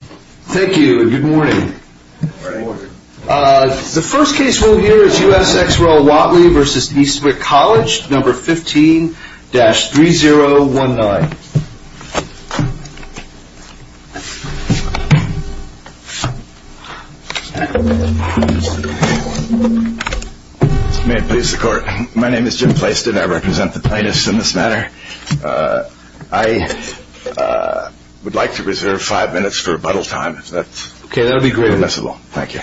Thank you and good morning. The first case we'll hear is U.S. Ex Roll Watley v. Eastwick College, No. 15-3019. May it please the court. My name is Jim Plaston. I represent the plaintiffs in this matter. I would like to reserve five minutes for rebuttal time if that's permissible. Okay, that would be great. Thank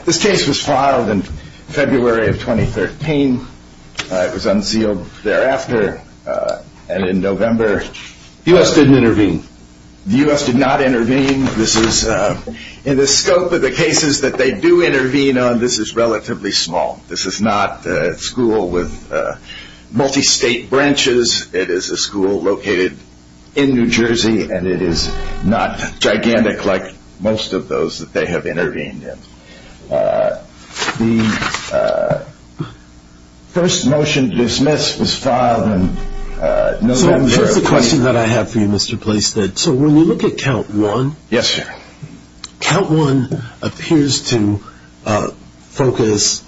you. This case was filed in February of 2013. It was unsealed thereafter and in November. The U.S. didn't intervene. The U.S. did not intervene. In the scope of the cases that they do intervene on, this is relatively small. This is not a school with multi-state branches. It is a school located in New Jersey and it is not gigantic like most of those that they have intervened in. The first motion to dismiss was filed in November of 2013. So here's a question that I have for you, Mr. Plaston. So when you look at count one, count one appears to focus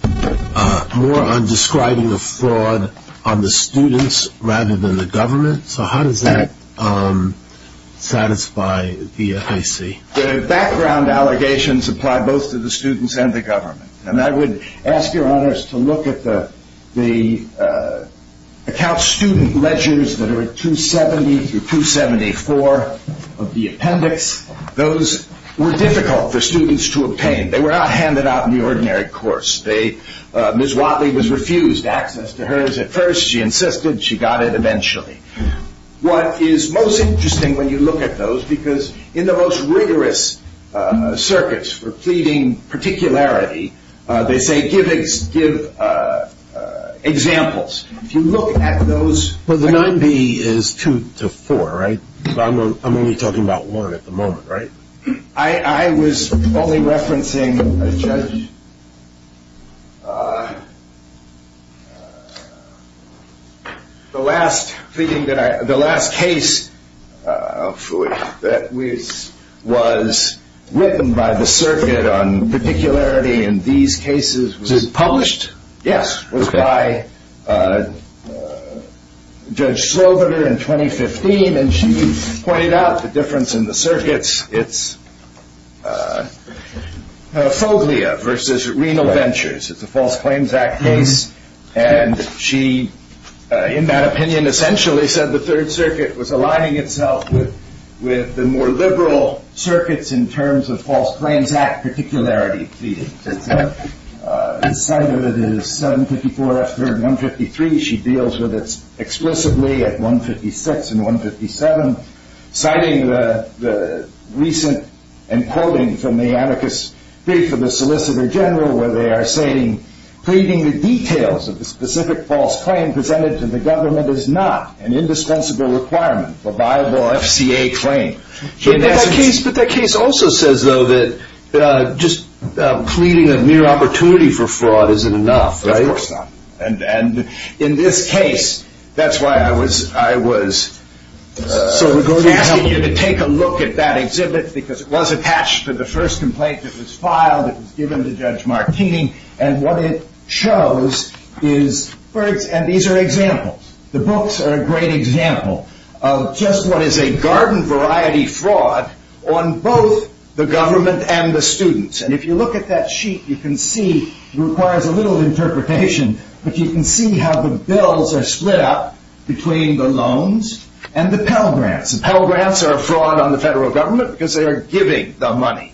more on describing a fraud on the students rather than the government. So how does that satisfy the FAC? The background allegations apply both to the students and the government. And I would ask your honors to look at the account student ledgers that are at 270 through 274 of the appendix. Those were difficult for students to obtain. They were not handed out in the ordinary course. Ms. Watley was refused access to hers at first. She insisted. She got it eventually. What is most interesting when you look at those, because in the most rigorous circuits for pleading particularity, they say give examples. If you look at those... Well, the 9B is two to four, right? I'm only talking about one at the moment, right? I was only referencing a judge. The last case that was written by the circuit on particularity in these cases... Was it published? Yes. It was by Judge Sloboda in 2015, and she pointed out the difference in the circuits. It's a phobia versus renal ventures. It's a False Claims Act case. And she, in that opinion, essentially said the Third Circuit was aligning itself with the more liberal circuits in terms of False Claims Act particularity. The site of it is 754 F3rd 153. She deals with it explicitly at 156 and 157. Citing the recent, and quoting from the anarchist brief of the Solicitor General, where they are saying, pleading the details of the specific false claim presented to the government is not an indispensable requirement, a viable FCA claim. But that case also says, though, that just pleading a mere opportunity for fraud isn't enough, right? Of course not. And in this case, that's why I was asking you to take a look at that exhibit, because it was attached to the first complaint that was filed. It was given to Judge Martini. And what it shows is, and these are examples, the books are a great example of just what is a garden variety fraud on both the government and the students. And if you look at that sheet, you can see it requires a little interpretation, but you can see how the bills are split up between the loans and the Pell Grants. The Pell Grants are a fraud on the federal government because they are giving the money.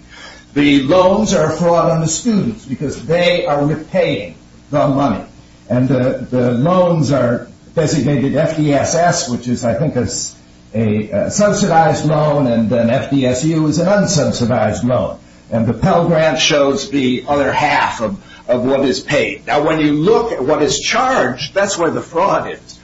The loans are a fraud on the students because they are repaying the money. And the loans are designated FDSS, which is, I think, a subsidized loan, and then FDSU is an unsubsidized loan. And the Pell Grant shows the other half of what is paid. Now, when you look at what is charged, that's where the fraud is.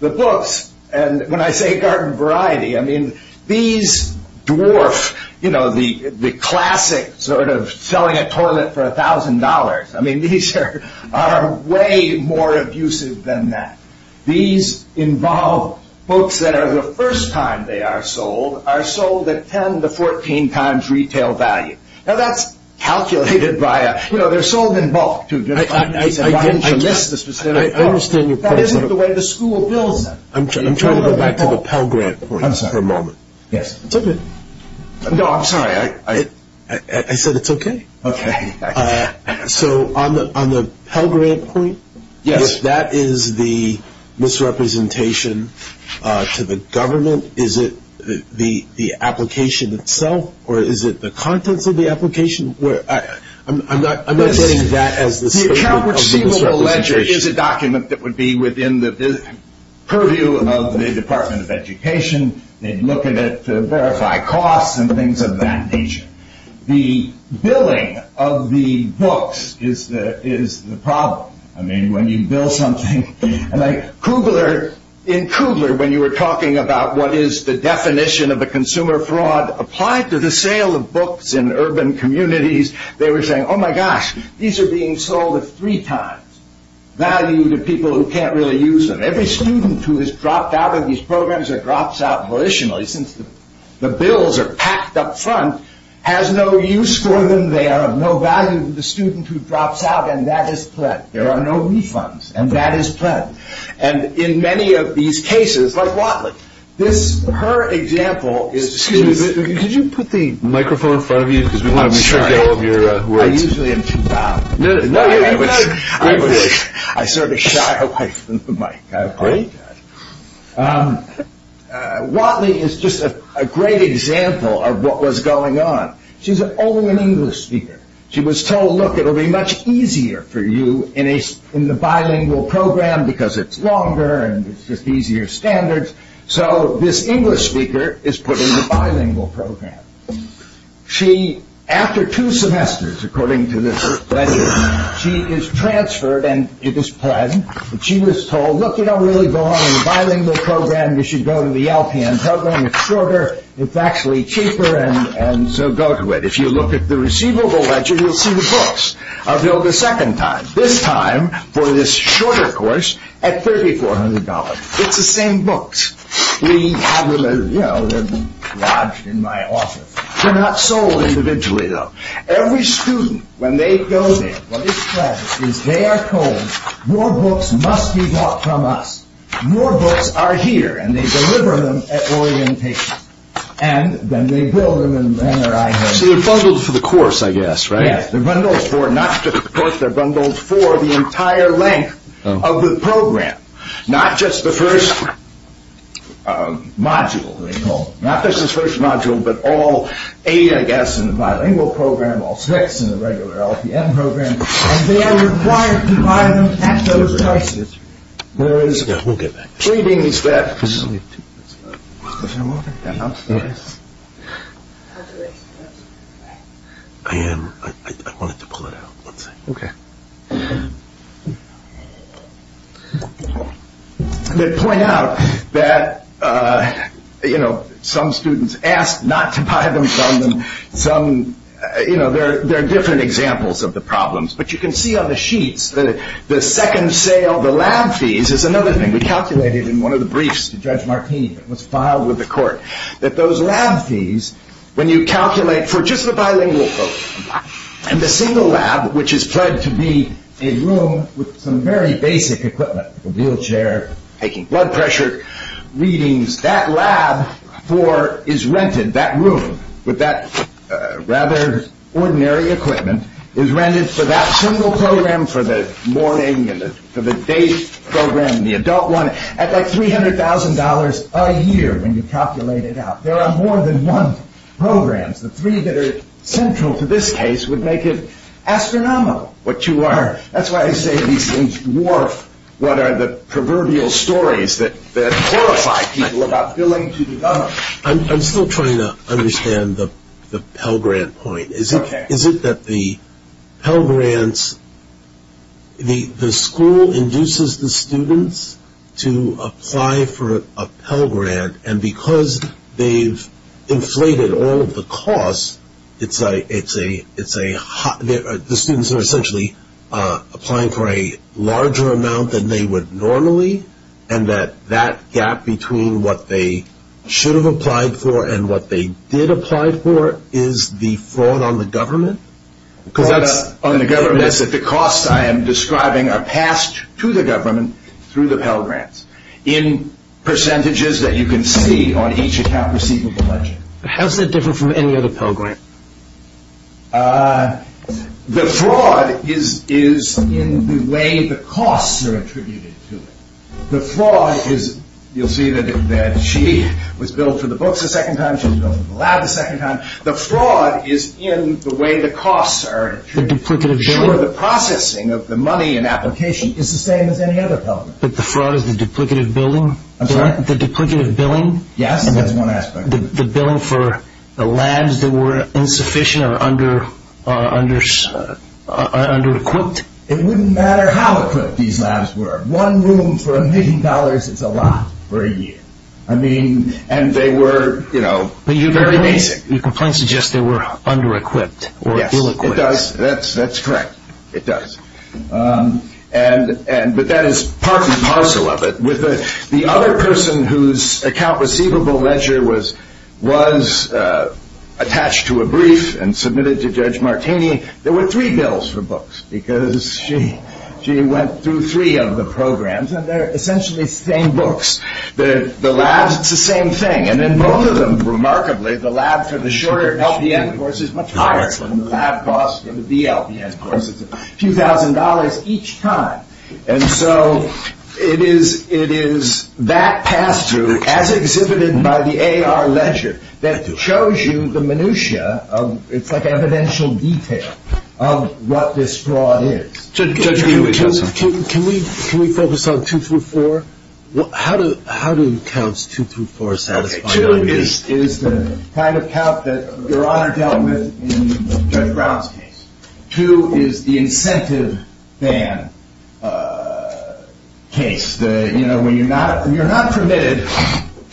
And when I say garden variety, I mean, these dwarf, you know, the classic sort of selling a toilet for $1,000. I mean, these are way more abusive than that. These involve books that are the first time they are sold are sold at 10 to 14 times retail value. Now, that's calculated by, you know, they're sold in bulk. I understand your point. That isn't the way the school bills are. I'm trying to go back to the Pell Grant for a moment. Yes. It's okay. No, I'm sorry. I said it's okay. Okay. So on the Pell Grant point, if that is the misrepresentation to the government, is it the application itself or is it the contents of the application? I'm not getting that as the misrepresentation. The account receivable ledger is a document that would be within the purview of the Department of Education. They'd look at it to verify costs and things of that nature. The billing of the books is the problem. I mean, when you bill something, like Kugler, in Kugler, when you were talking about what is the definition of a consumer fraud applied to the sale of books in urban communities, they were saying, oh, my gosh, these are being sold at three times value to people who can't really use them. Every student who is dropped out of these programs or drops out militarily, since the bills are packed up front, has no use for them. They are of no value to the student who drops out, and that is pled. There are no refunds, and that is pled. And in many of these cases, like Watley, her example is... Excuse me, could you put the microphone in front of you? I'm sorry. I usually am too loud. No, you're good. I sort of shy away from the mic. Great. Watley is just a great example of what was going on. She's an only English speaker. She was told, look, it will be much easier for you in the bilingual program, because it's longer and it's just easier standards. So this English speaker is put in the bilingual program. She, after two semesters, according to this ledger, she is transferred, and it is pled. She was told, look, you don't really belong in the bilingual program. You should go to the LPN program. It's shorter. It's actually cheaper, and so go to it. If you look at the receivable ledger, you'll see the books are billed a second time, this time for this shorter course at $3,400. It's the same books. We have them lodged in my office. They're not sold individually, though. Every student, when they go there, what is pled is they are told, more books must be bought from us. More books are here, and they deliver them at orientation. And then they bill them in their IHS. So they're bundled for the course, I guess, right? Yes, they're bundled for not just the course. They're bundled for the entire length of the program, not just the first module. Not just the first module, but all eight, I guess, in the bilingual program, all six in the regular LPN program, and they are required to buy them at those prices. There is readings that point out that some students ask not to buy them from them. There are different examples of the problems, but you can see on the sheets that the second sale, the lab fees, is another thing. We calculated in one of the briefs to Judge Martini that was filed with the court that those lab fees, when you calculate for just the bilingual program, and the single lab, which is pled to be a room with some very basic equipment, a wheelchair, taking blood pressure readings, that lab is rented, that room with that rather ordinary equipment, is rented for that single program, for the morning and for the day program, the adult one, at like $300,000 a year when you calculate it out. There are more than one program. The three that are central to this case would make it astronomical what you are. That's why I say these things dwarf what are the proverbial stories that horrify people about billing to develop. I'm still trying to understand the Pell Grant point. Is it that the Pell Grants, the school induces the students to apply for a Pell Grant, and because they've inflated all of the costs, the students are essentially applying for a larger amount than they would normally, and that that gap between what they should have applied for and what they did apply for is the fraud on the government? Fraud on the government is that the costs I am describing are passed to the government through the Pell Grants in percentages that you can see on each account receivable budget. How is that different from any other Pell Grant? The fraud is in the way the costs are attributed to it. The fraud is, you'll see that she was billed for the books a second time, she was billed for the lab a second time. The fraud is in the way the costs are attributed to it. The duplicative billing? Sure, the processing of the money and application is the same as any other Pell Grant. But the fraud is the duplicative billing? I'm sorry? The duplicative billing? Yes, that's one aspect. The billing for the labs that were insufficient or under-equipped? It wouldn't matter how equipped these labs were. One room for a million dollars is a lot for a year. I mean, and they were, you know, very basic. Your complaint suggests they were under-equipped or ill-equipped. Yes, it does. That's correct. It does. But that is part and parcel of it. The other person whose account receivable ledger was attached to a brief and submitted to Judge Martini, there were three bills for books because she went through three of the programs. And they're essentially the same books. The labs, it's the same thing. And in both of them, remarkably, the lab for the short LPN course is much higher than the lab costs for the BLPN course. It's a few thousand dollars each time. And so it is that pass-through, as exhibited by the AR ledger, that shows you the minutiae of, it's like evidential detail, of what this fraud is. Judge, can we focus on two through four? How do counts two through four satisfy you? Two is the kind of count that Your Honor dealt with in Judge Brown's case. Two is the incentive ban case. You know, when you're not permitted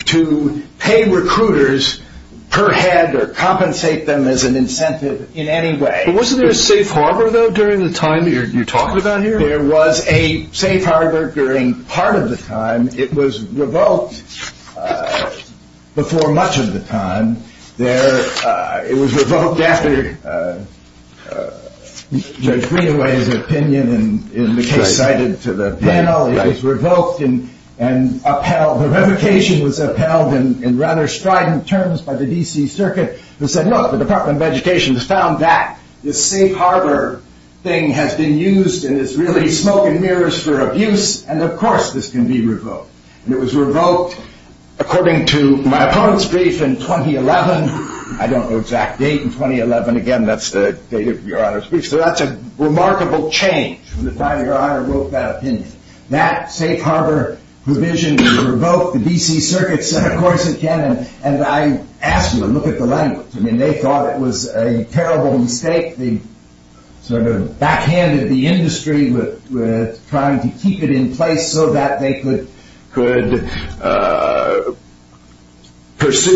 to pay recruiters per head or compensate them as an incentive in any way. But wasn't there a safe harbor, though, during the time you're talking about here? There was a safe harbor during part of the time. It was revoked before much of the time. It was revoked after Judge Greenaway's opinion in the case cited to the panel. It was revoked and upheld. The revocation was upheld in rather strident terms by the DC Circuit, who said, look, the Department of Education has found that this safe harbor thing has been used and is really smoke and mirrors for abuse, and of course this can be revoked. And it was revoked according to my opponent's brief in 2011. I don't know the exact date in 2011. Again, that's the date of Your Honor's brief. So that's a remarkable change from the time Your Honor wrote that opinion. That safe harbor provision was revoked. The DC Circuit said, of course it can. And I asked them to look at the language. I mean, they thought it was a terrible mistake. They sort of backhanded the industry with trying to keep it in place so that they could pursue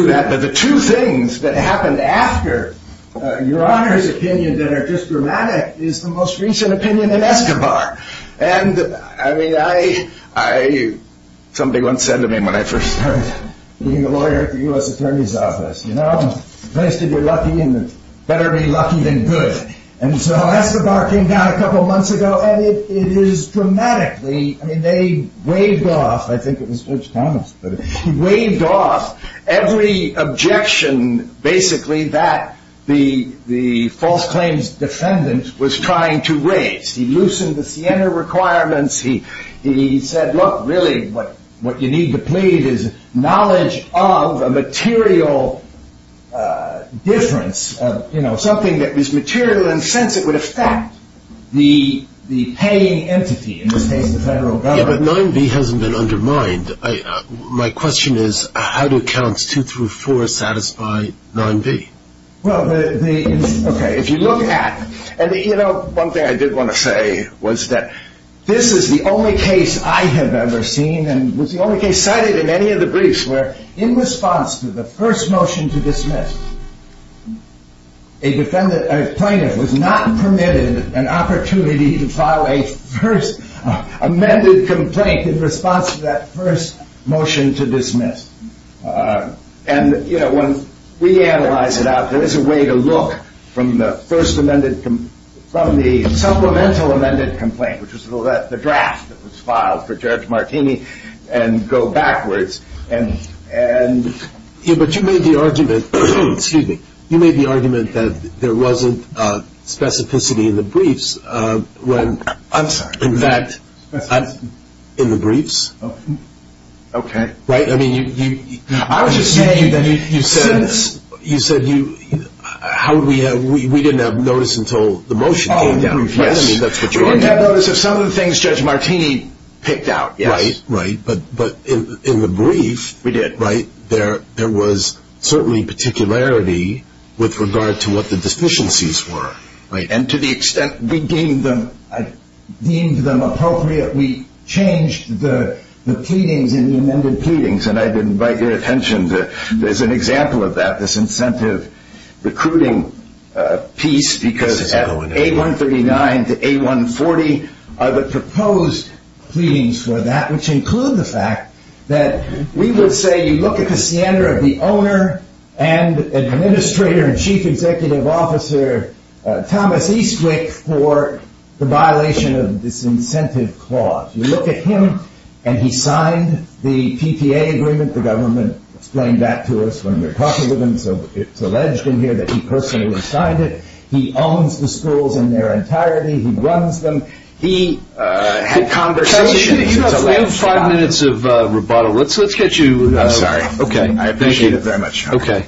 that. But the two things that happened after Your Honor's opinion that are just dramatic is the most recent opinion in Escobar. And, I mean, somebody once said to me when I first started being a lawyer at the U.S. Attorney's Office, you know, the place to be lucky and better be lucky than good. And so Escobar came down a couple of months ago, and it is dramatically, I mean, they waved off, I think it was George Thomas, but he waved off every objection basically that the false claims defendant was trying to raise. He loosened the Siena requirements. He said, look, really what you need to plead is knowledge of a material difference, you know, something that was material in the sense it would affect the paying entity, in this case the federal government. Yeah, but 9b hasn't been undermined. My question is how do accounts two through four satisfy 9b? Well, okay, if you look at, you know, one thing I did want to say was that this is the only case I have ever seen and was the only case cited in any of the briefs where in response to the first motion to dismiss, a plaintiff was not permitted an opportunity to file a first amended complaint in response to that first motion to dismiss. And, you know, when we analyze it out, there is a way to look from the supplemental amended complaint, which was the draft that was filed for Judge Martini, and go backwards. Yeah, but you made the argument, excuse me, you made the argument that there wasn't specificity in the briefs. I'm sorry. In fact, in the briefs. Okay. Right? I was just saying that since you said you, how would we have, we didn't have notice until the motion came down. Oh, yes. I mean, that's what you wanted to do. We didn't have notice of some of the things Judge Martini picked out, yes. Right, right, but in the brief. We did. Right? There was certainly particularity with regard to what the deficiencies were, right? And to the extent we deemed them appropriate, we changed the pleadings in the amended pleadings, and I did invite your attention to, there's an example of that, this incentive recruiting piece, because at A139 to A140 are the proposed pleadings for that, which include the fact that we would say you look at the standard of the owner and administrator and chief executive officer, Thomas Eastwick, for the violation of this incentive clause. You look at him and he signed the PTA agreement. The government explained that to us when we were talking with him, so it's alleged in here that he personally signed it. He owns the schools in their entirety. He runs them. He had conversations. You have five minutes of rebuttal. Let's get you. I'm sorry. Okay. I appreciate it very much. Okay.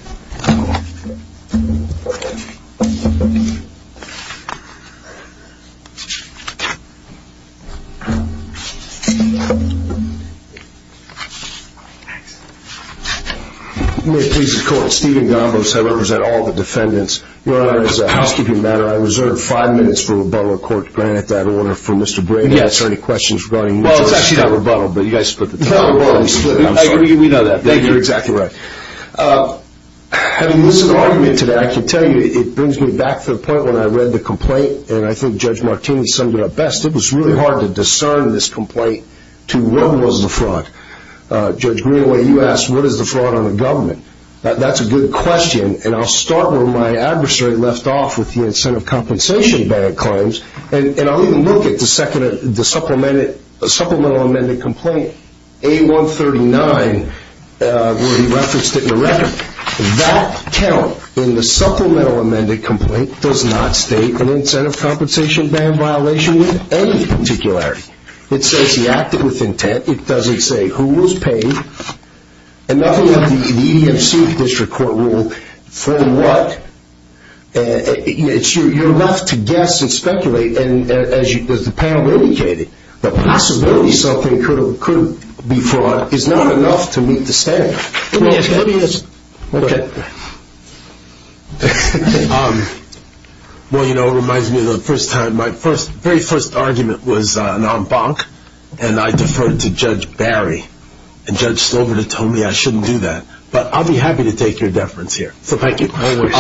May it please the Court, Stephen Gombos. I represent all the defendants. Your Honor, as a housekeeping matter, I reserve five minutes for rebuttal. Court to grant that order for Mr. Brady. Yes. Is there any questions regarding the rebuttal? Well, it's actually not rebuttal, but you guys split the time. No, rebuttal is split. I'm sorry. We know that. You're exactly right. Having listened to the argument today, I can tell you, it brings me back to the point when I read the complaint, and I think Judge Martini summed it up best. It was really hard to discern in this complaint to what was the fraud. Judge Greenaway, you asked what is the fraud on the government. That's a good question, and I'll start where my adversary left off with the incentive compensation bank claims, and I'll even look at the supplemental amended complaint. A139, where he referenced it in the record, that count in the supplemental amended complaint does not state an incentive compensation ban violation with any particularity. It says he acted with intent. It doesn't say who was paid, and nothing of the EDFC district court rule for what. You're left to guess and speculate, and as the panel indicated, the possibility something could be fraud is not enough to meet the standard. Let me ask you that. Okay. Well, you know, it reminds me of the first time. My very first argument was an en banc, and I deferred to Judge Barry, and Judge Slover told me I shouldn't do that, but I'll be happy to take your deference here. Thank you. I wish.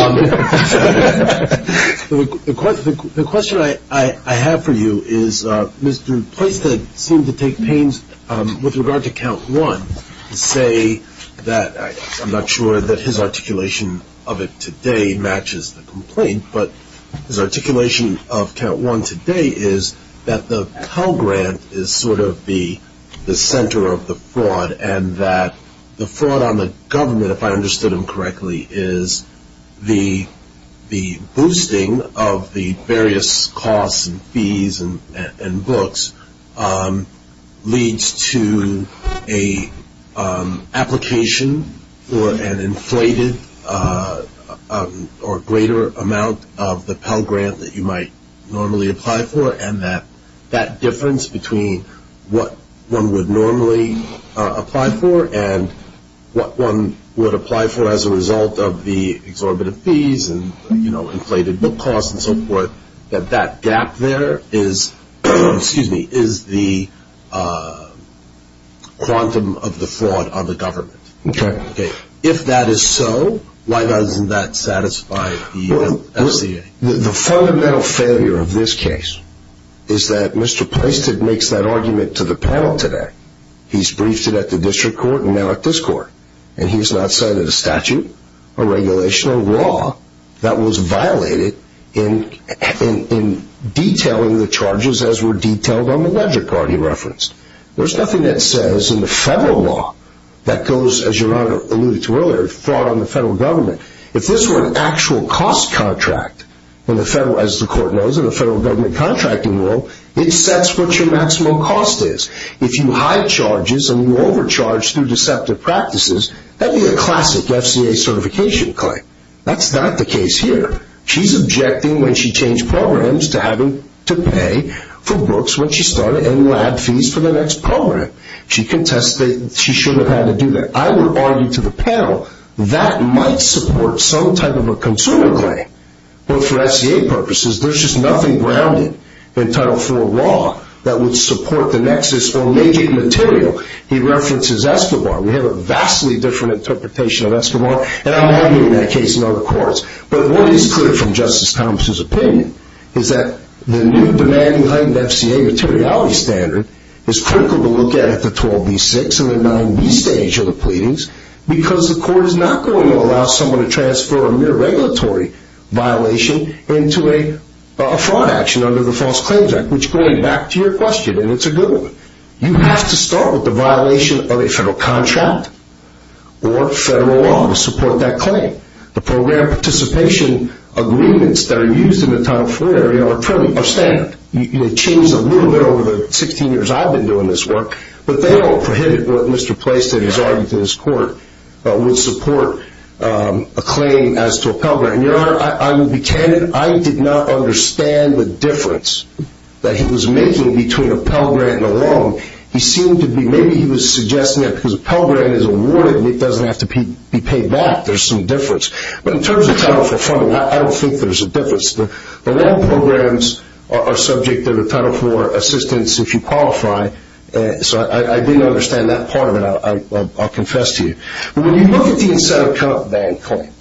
The question I have for you is, Mr. Poisted seemed to take pains with regard to count one to say that I'm not sure that his articulation of it today matches the complaint, but his articulation of count one today is that the Pell Grant is sort of the center of the fraud and that the fraud on the government, if I understood him correctly, is the boosting of the various costs and fees and books leads to an application for an inflated or greater amount of the Pell Grant that you might normally apply for, and that that difference between what one would normally apply for and what one would apply for as a result of the exorbitant fees and inflated book costs and so forth, that that gap there is the quantum of the fraud on the government. Okay. If that is so, why doesn't that satisfy the FCA? The fundamental failure of this case is that Mr. Poisted makes that argument to the panel today. He's briefed it at the district court and now at this court, and he has not cited a statute or regulation or law that was violated in detailing the charges as were detailed on the ledger card he referenced. There's nothing that says in the federal law that goes, as your Honor alluded to earlier, fraud on the federal government. If this were an actual cost contract, as the court knows in the federal government contracting rule, it sets what your maximum cost is. If you hide charges and you overcharge through deceptive practices, that would be a classic FCA certification claim. That's not the case here. She's objecting when she changed programs to having to pay for books when she started and lab fees for the next program. She contests that she should have had to do that. I would argue to the panel that might support some type of a consumer claim. But for FCA purposes, there's just nothing grounded in Title IV law that would support the nexus or major material. He references Escobar. We have a vastly different interpretation of Escobar, and I'm arguing that case in other courts. But what is clear from Justice Thomas's opinion is that the new demand behind the FCA materiality standard is critical to look at at the 12b6 and the 9b stage of the pleadings because the court is not going to allow someone to transfer a mere regulatory violation into a fraud action under the False Claims Act, which, going back to your question, and it's a good one, you have to start with the violation of a federal contract or federal law to support that claim. The program participation agreements that are used in the Title IV area are standard. They change a little bit over the 16 years I've been doing this work, but they don't prohibit what Mr. Plaston has argued in his court would support a claim as to a Pell Grant. I will be candid. I did not understand the difference that he was making between a Pell Grant and a loan. He seemed to be maybe he was suggesting that because a Pell Grant is awarded and it doesn't have to be paid back, there's some difference. But in terms of Title IV funding, I don't think there's a difference. The loan programs are subject to the Title IV assistance if you qualify. So I didn't understand that part of it. I'll confess to you. But when you look at the Incentive Account Bank claim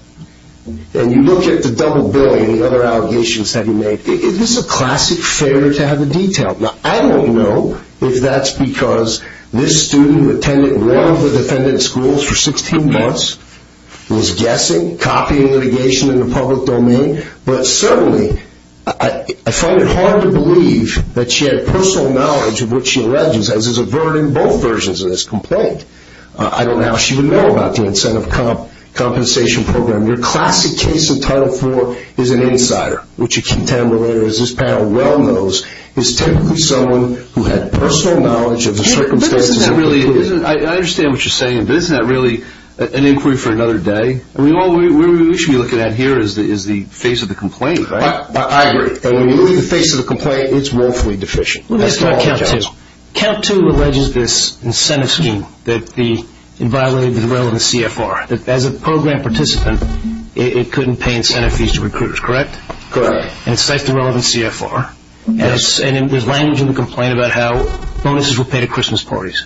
and you look at the double billing and the other allegations that he made, this is a classic failure to have the detail. Now, I don't know if that's because this student who attended one of the defendant's schools for 16 months was guessing, copying litigation in the public domain, but certainly I find it hard to believe that she had personal knowledge of what she alleges, as is averted in both versions of this complaint. I don't know how she would know about the incentive compensation program. Your classic case in Title IV is an insider, which a contemplator as this panel well knows is typically someone who had personal knowledge of the circumstances. I understand what you're saying, but isn't that really an inquiry for another day? All we should be looking at here is the face of the complaint, right? I agree. When you look at the face of the complaint, it's woefully deficient. Let me ask you about COUNT II. COUNT II alleges this incentive scheme that violated the relevant CFR. As a program participant, it couldn't pay incentive fees to recruiters, correct? Correct. And it cites the relevant CFR. There's language in the complaint about how bonuses were paid at Christmas parties.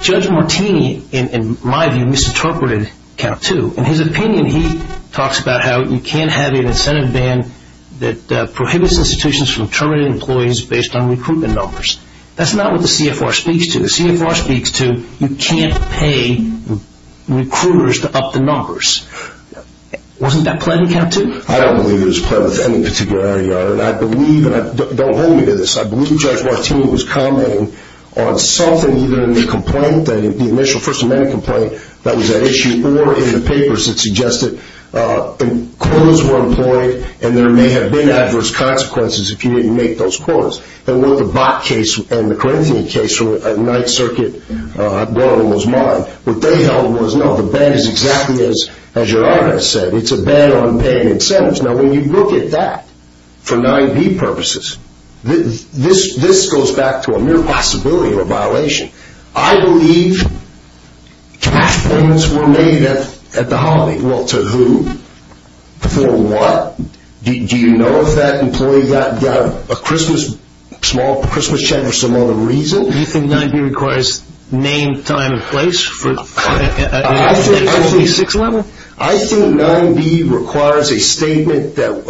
Judge Martini, in my view, misinterpreted COUNT II. In his opinion, he talks about how you can't have an incentive ban that prohibits institutions from terminating employees based on recruitment numbers. That's not what the CFR speaks to. The CFR speaks to you can't pay recruiters to up the numbers. Wasn't that played in COUNT II? I don't believe it was played with any particular area, Your Honor. And I believe, and don't hold me to this, I believe Judge Martini was commenting on something either in the complaint, the initial First Amendment complaint, that was at issue, or in the papers that suggested quotas were employed and there may have been adverse consequences if you didn't make those quotas. And what the Bok case and the Corinthian case at Ninth Circuit, one of them was mine, what they held was, no, the ban is exactly as Your Honor has said. It's a ban on paying incentives. Now, when you look at that, for 9B purposes, this goes back to a mere possibility of a violation. I believe cash points were made at the holiday. Well, to who? For what? Do you know if that employee got a small Christmas check for some other reason? Do you think 9B requires name, time, and place? I think 9B requires a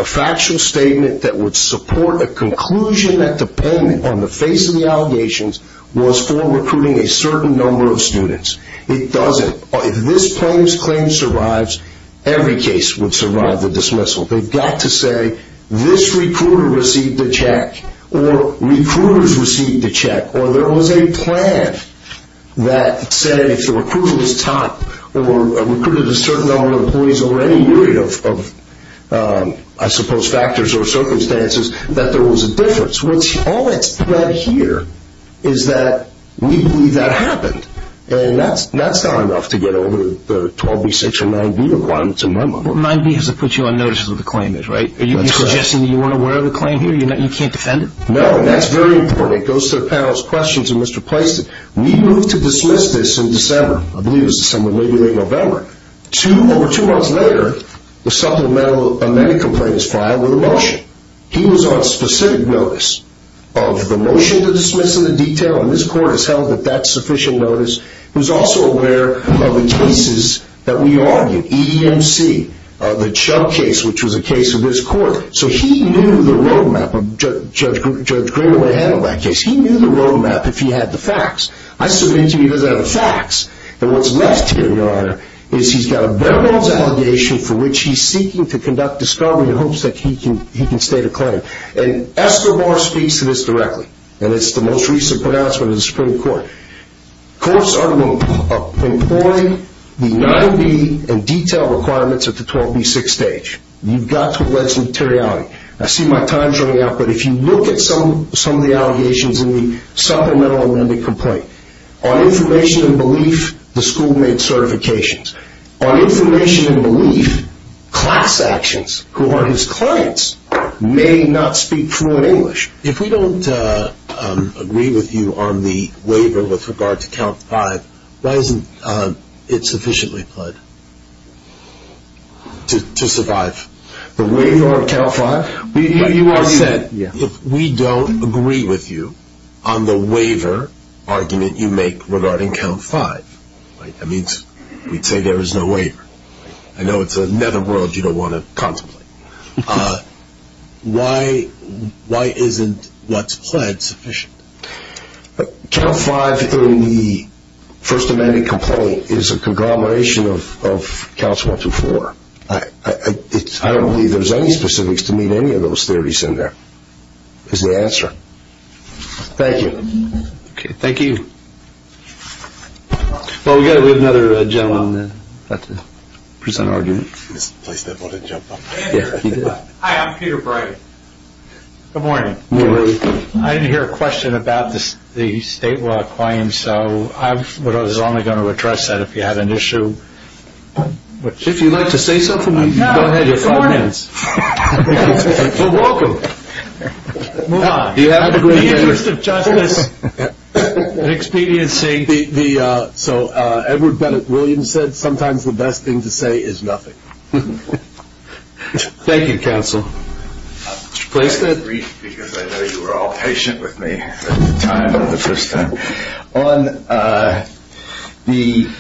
factual statement that would support a conclusion that the payment on the face of the allegations was for recruiting a certain number of students. It doesn't. If this plaintiff's claim survives, every case would survive the dismissal. They've got to say, this recruiter received a check, or recruiters received a check, or there was a plan that said if the recruiter was top or recruited a certain number of employees over any period of, I suppose, factors or circumstances, that there was a difference. All that's said here is that we believe that happened, and that's not enough to get over the 12B, 6B, or 9B requirements in my mind. 9B has to put you on notice of what the claim is, right? That's correct. Are you suggesting that you weren't aware of the claim here? You can't defend it? No, and that's very important. It goes to the panel's questions, and Mr. Pleiston, we moved to dismiss this in December. I believe it was December, maybe late November. Two, over two months later, the supplemental amendment complaint was filed with a motion. He was on specific notice of the motion to dismiss and the detail, and this court has held that that's sufficient notice. He was also aware of the cases that we argued, EEMC, the Chubb case, which was a case of this court. So he knew the road map. Judge Greenaway handled that case. He knew the road map if he had the facts. I submit to you he doesn't have the facts, and what's left here, Your Honor, is he's got a verbal allegation for which he's seeking to conduct discovery in hopes that he can state a claim. And Escobar speaks to this directly, and it's the most recent pronouncement of the Supreme Court. Courts are to employ the 9B and detail requirements at the 12B, 6B stage. You've got to let some materiality. I see my time's running out, but if you look at some of the allegations in the supplemental amendment complaint, on information and belief, the school made certifications. On information and belief, class actions, who are his clients, may not speak fluent English. If we don't agree with you on the waiver with regard to count five, why isn't it sufficiently pled to survive? The waiver of count five? You already said, if we don't agree with you on the waiver argument you make regarding count five, that means we'd say there is no waiver. I know it's another world you don't want to contemplate. Why isn't what's pled sufficient? Count five in the first amendment complaint is a conglomeration of counts 124. I don't believe there's any specifics to meet any of those theories in there, is the answer. Thank you. Okay, thank you. Well, we've got another gentleman about to present an argument. Hi, I'm Peter Bright. Good morning. I didn't hear a question about the state law claim, so I was only going to address that if you had an issue. If you'd like to say something, go ahead, you have five minutes. You're welcome. The interest of justice, expediency. So Edward Bennett Williams said, sometimes the best thing to say is nothing. Thank you, counsel. I'm going to read because I know you were all patient with me at the time of the first time. On the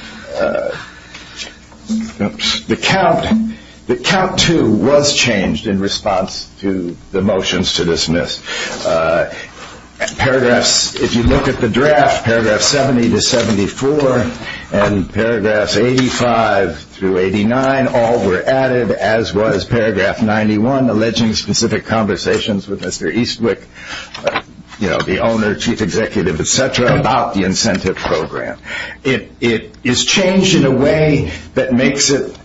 count, the count two was changed in response to the motions to dismiss. Paragraphs, if you look at the draft, paragraph 70 to 74 and paragraphs 85 through 89, all were added, as was paragraph 91, alleging specific conversations with Mr. Eastwick, the owner, chief executive, et cetera, about the incentive program. It is changed in a way that makes it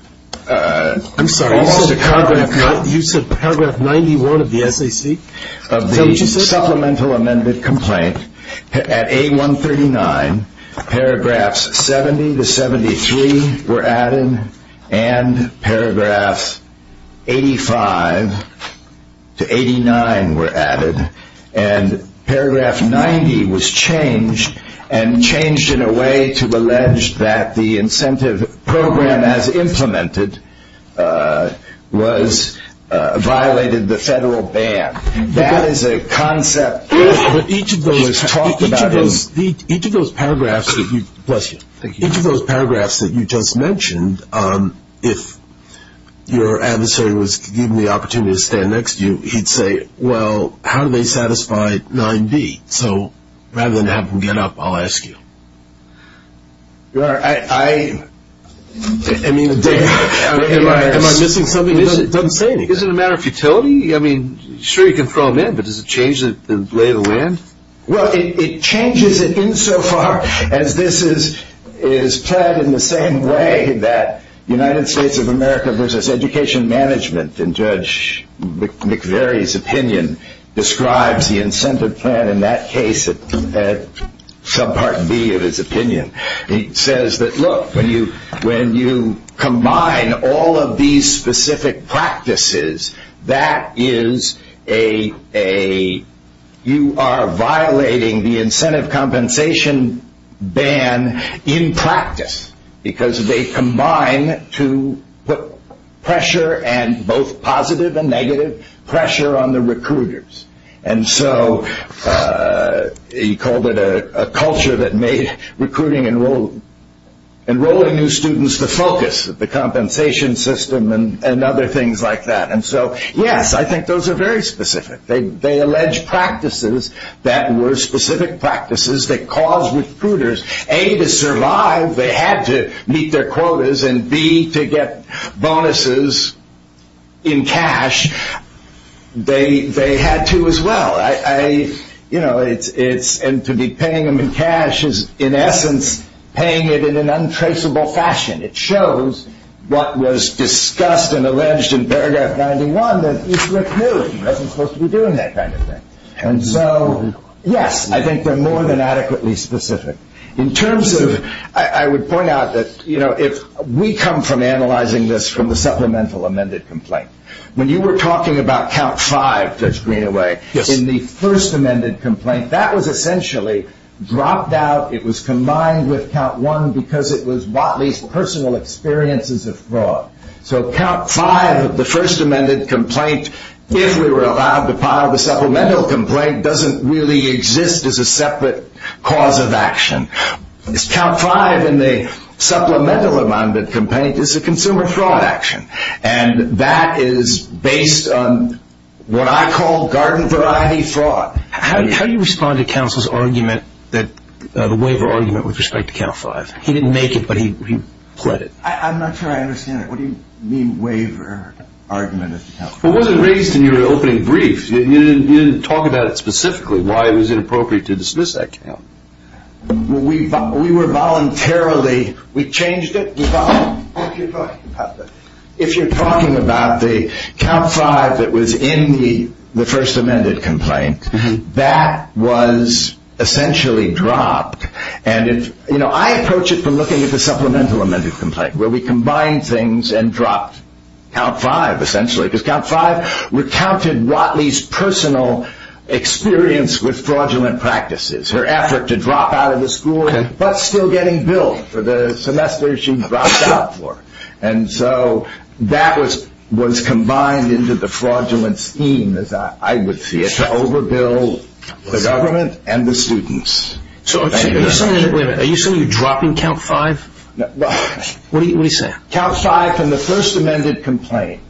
almost a cognitive. You said paragraph 91 of the SAC? Of the supplemental amended complaint at A139, paragraphs 70 to 73 were added and paragraphs 85 to 89 were added. And paragraph 90 was changed and changed in a way to allege that the incentive program, as implemented, violated the federal ban. That is a concept that was talked about. Each of those paragraphs that you just mentioned, if your adversary was given the opportunity to stand next to you, he'd say, well, how do they satisfy 9B? So rather than have him get up, I'll ask you. Your Honor, I mean, am I missing something? It doesn't say anything. Is it a matter of futility? I mean, sure, you can throw them in, but does it change the lay of the land? Well, it changes it insofar as this is planned in the same way that United States of America versus education management, in Judge McVeary's opinion, describes the incentive plan in that case, subpart B of his opinion. He says that, look, when you combine all of these specific practices, that is a, you are violating the incentive compensation ban in practice because they combine to put pressure and both positive and negative pressure on the recruiters. And so he called it a culture that made recruiting, enrolling new students, the focus of the compensation system and other things like that. And so, yes, I think those are very specific. They allege practices that were specific practices that caused recruiters, A, to survive, they had to meet their quotas, and B, to get bonuses in cash, they had to as well. I, you know, it's, and to be paying them in cash is in essence paying it in an untraceable fashion. It shows what was discussed and alleged in paragraph 91 that each recruit wasn't supposed to be doing that kind of thing. And so, yes, I think they're more than adequately specific. In terms of, I would point out that, you know, if we come from analyzing this from the supplemental amended complaint, when you were talking about count five, Judge Greenaway, in the first amended complaint, that was essentially dropped out. It was combined with count one because it was Watley's personal experiences of fraud. So count five of the first amended complaint, if we were allowed to file the supplemental complaint, doesn't really exist as a separate cause of action. Count five in the supplemental amended complaint is a consumer fraud action, and that is based on what I call garden variety fraud. How do you respond to counsel's argument that, the waiver argument with respect to count five? He didn't make it, but he pled it. I'm not sure I understand it. What do you mean waiver argument? It wasn't raised in your opening brief. You didn't talk about it specifically, why it was inappropriate to dismiss that count. We were voluntarily, we changed it. If you're talking about the count five that was in the first amended complaint, that was essentially dropped. I approach it from looking at the supplemental amended complaint, where we combined things and dropped count five, essentially, because count five recounted Watley's personal experience with fraudulent practices, her effort to drop out of the school, but still getting billed for the semester she dropped out for. That was combined into the fraudulent scheme, as I would see it, to overbill the government and the students. Are you saying you're dropping count five? What are you saying? Count five from the first amended complaint.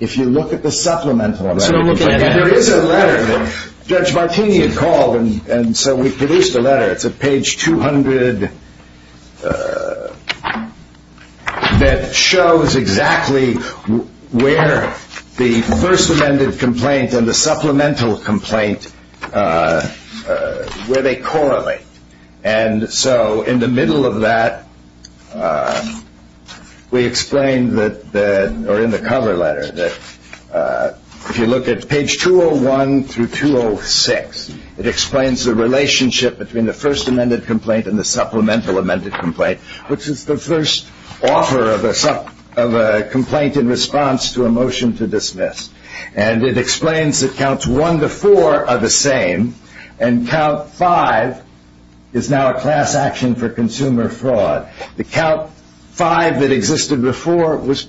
If you look at the supplemental amendment, there is a letter that Judge Martini had called, and so we produced a letter, it's at page 200, that shows exactly where the first amended complaint and the supplemental complaint, where they correlate. And so in the middle of that, we explained that, or in the cover letter, if you look at page 201 through 206, it explains the relationship between the first amended complaint and the supplemental amended complaint, which is the first offer of a complaint in response to a motion to dismiss. And it explains that counts one to four are the same, and count five is now a class action for consumer fraud. The count five that existed before was,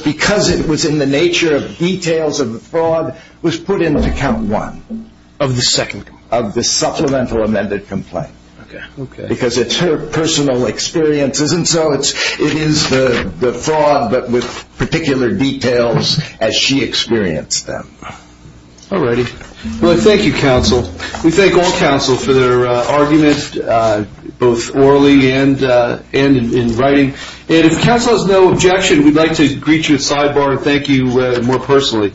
because it was in the nature of details of the fraud, was put into count one of the supplemental amended complaint. Because it's her personal experiences, and so it is the fraud, but with particular details as she experienced them. All righty. Well, thank you, counsel. We thank all counsel for their arguments, both orally and in writing. And if counsel has no objection, we'd like to greet you at sidebar and thank you more personally.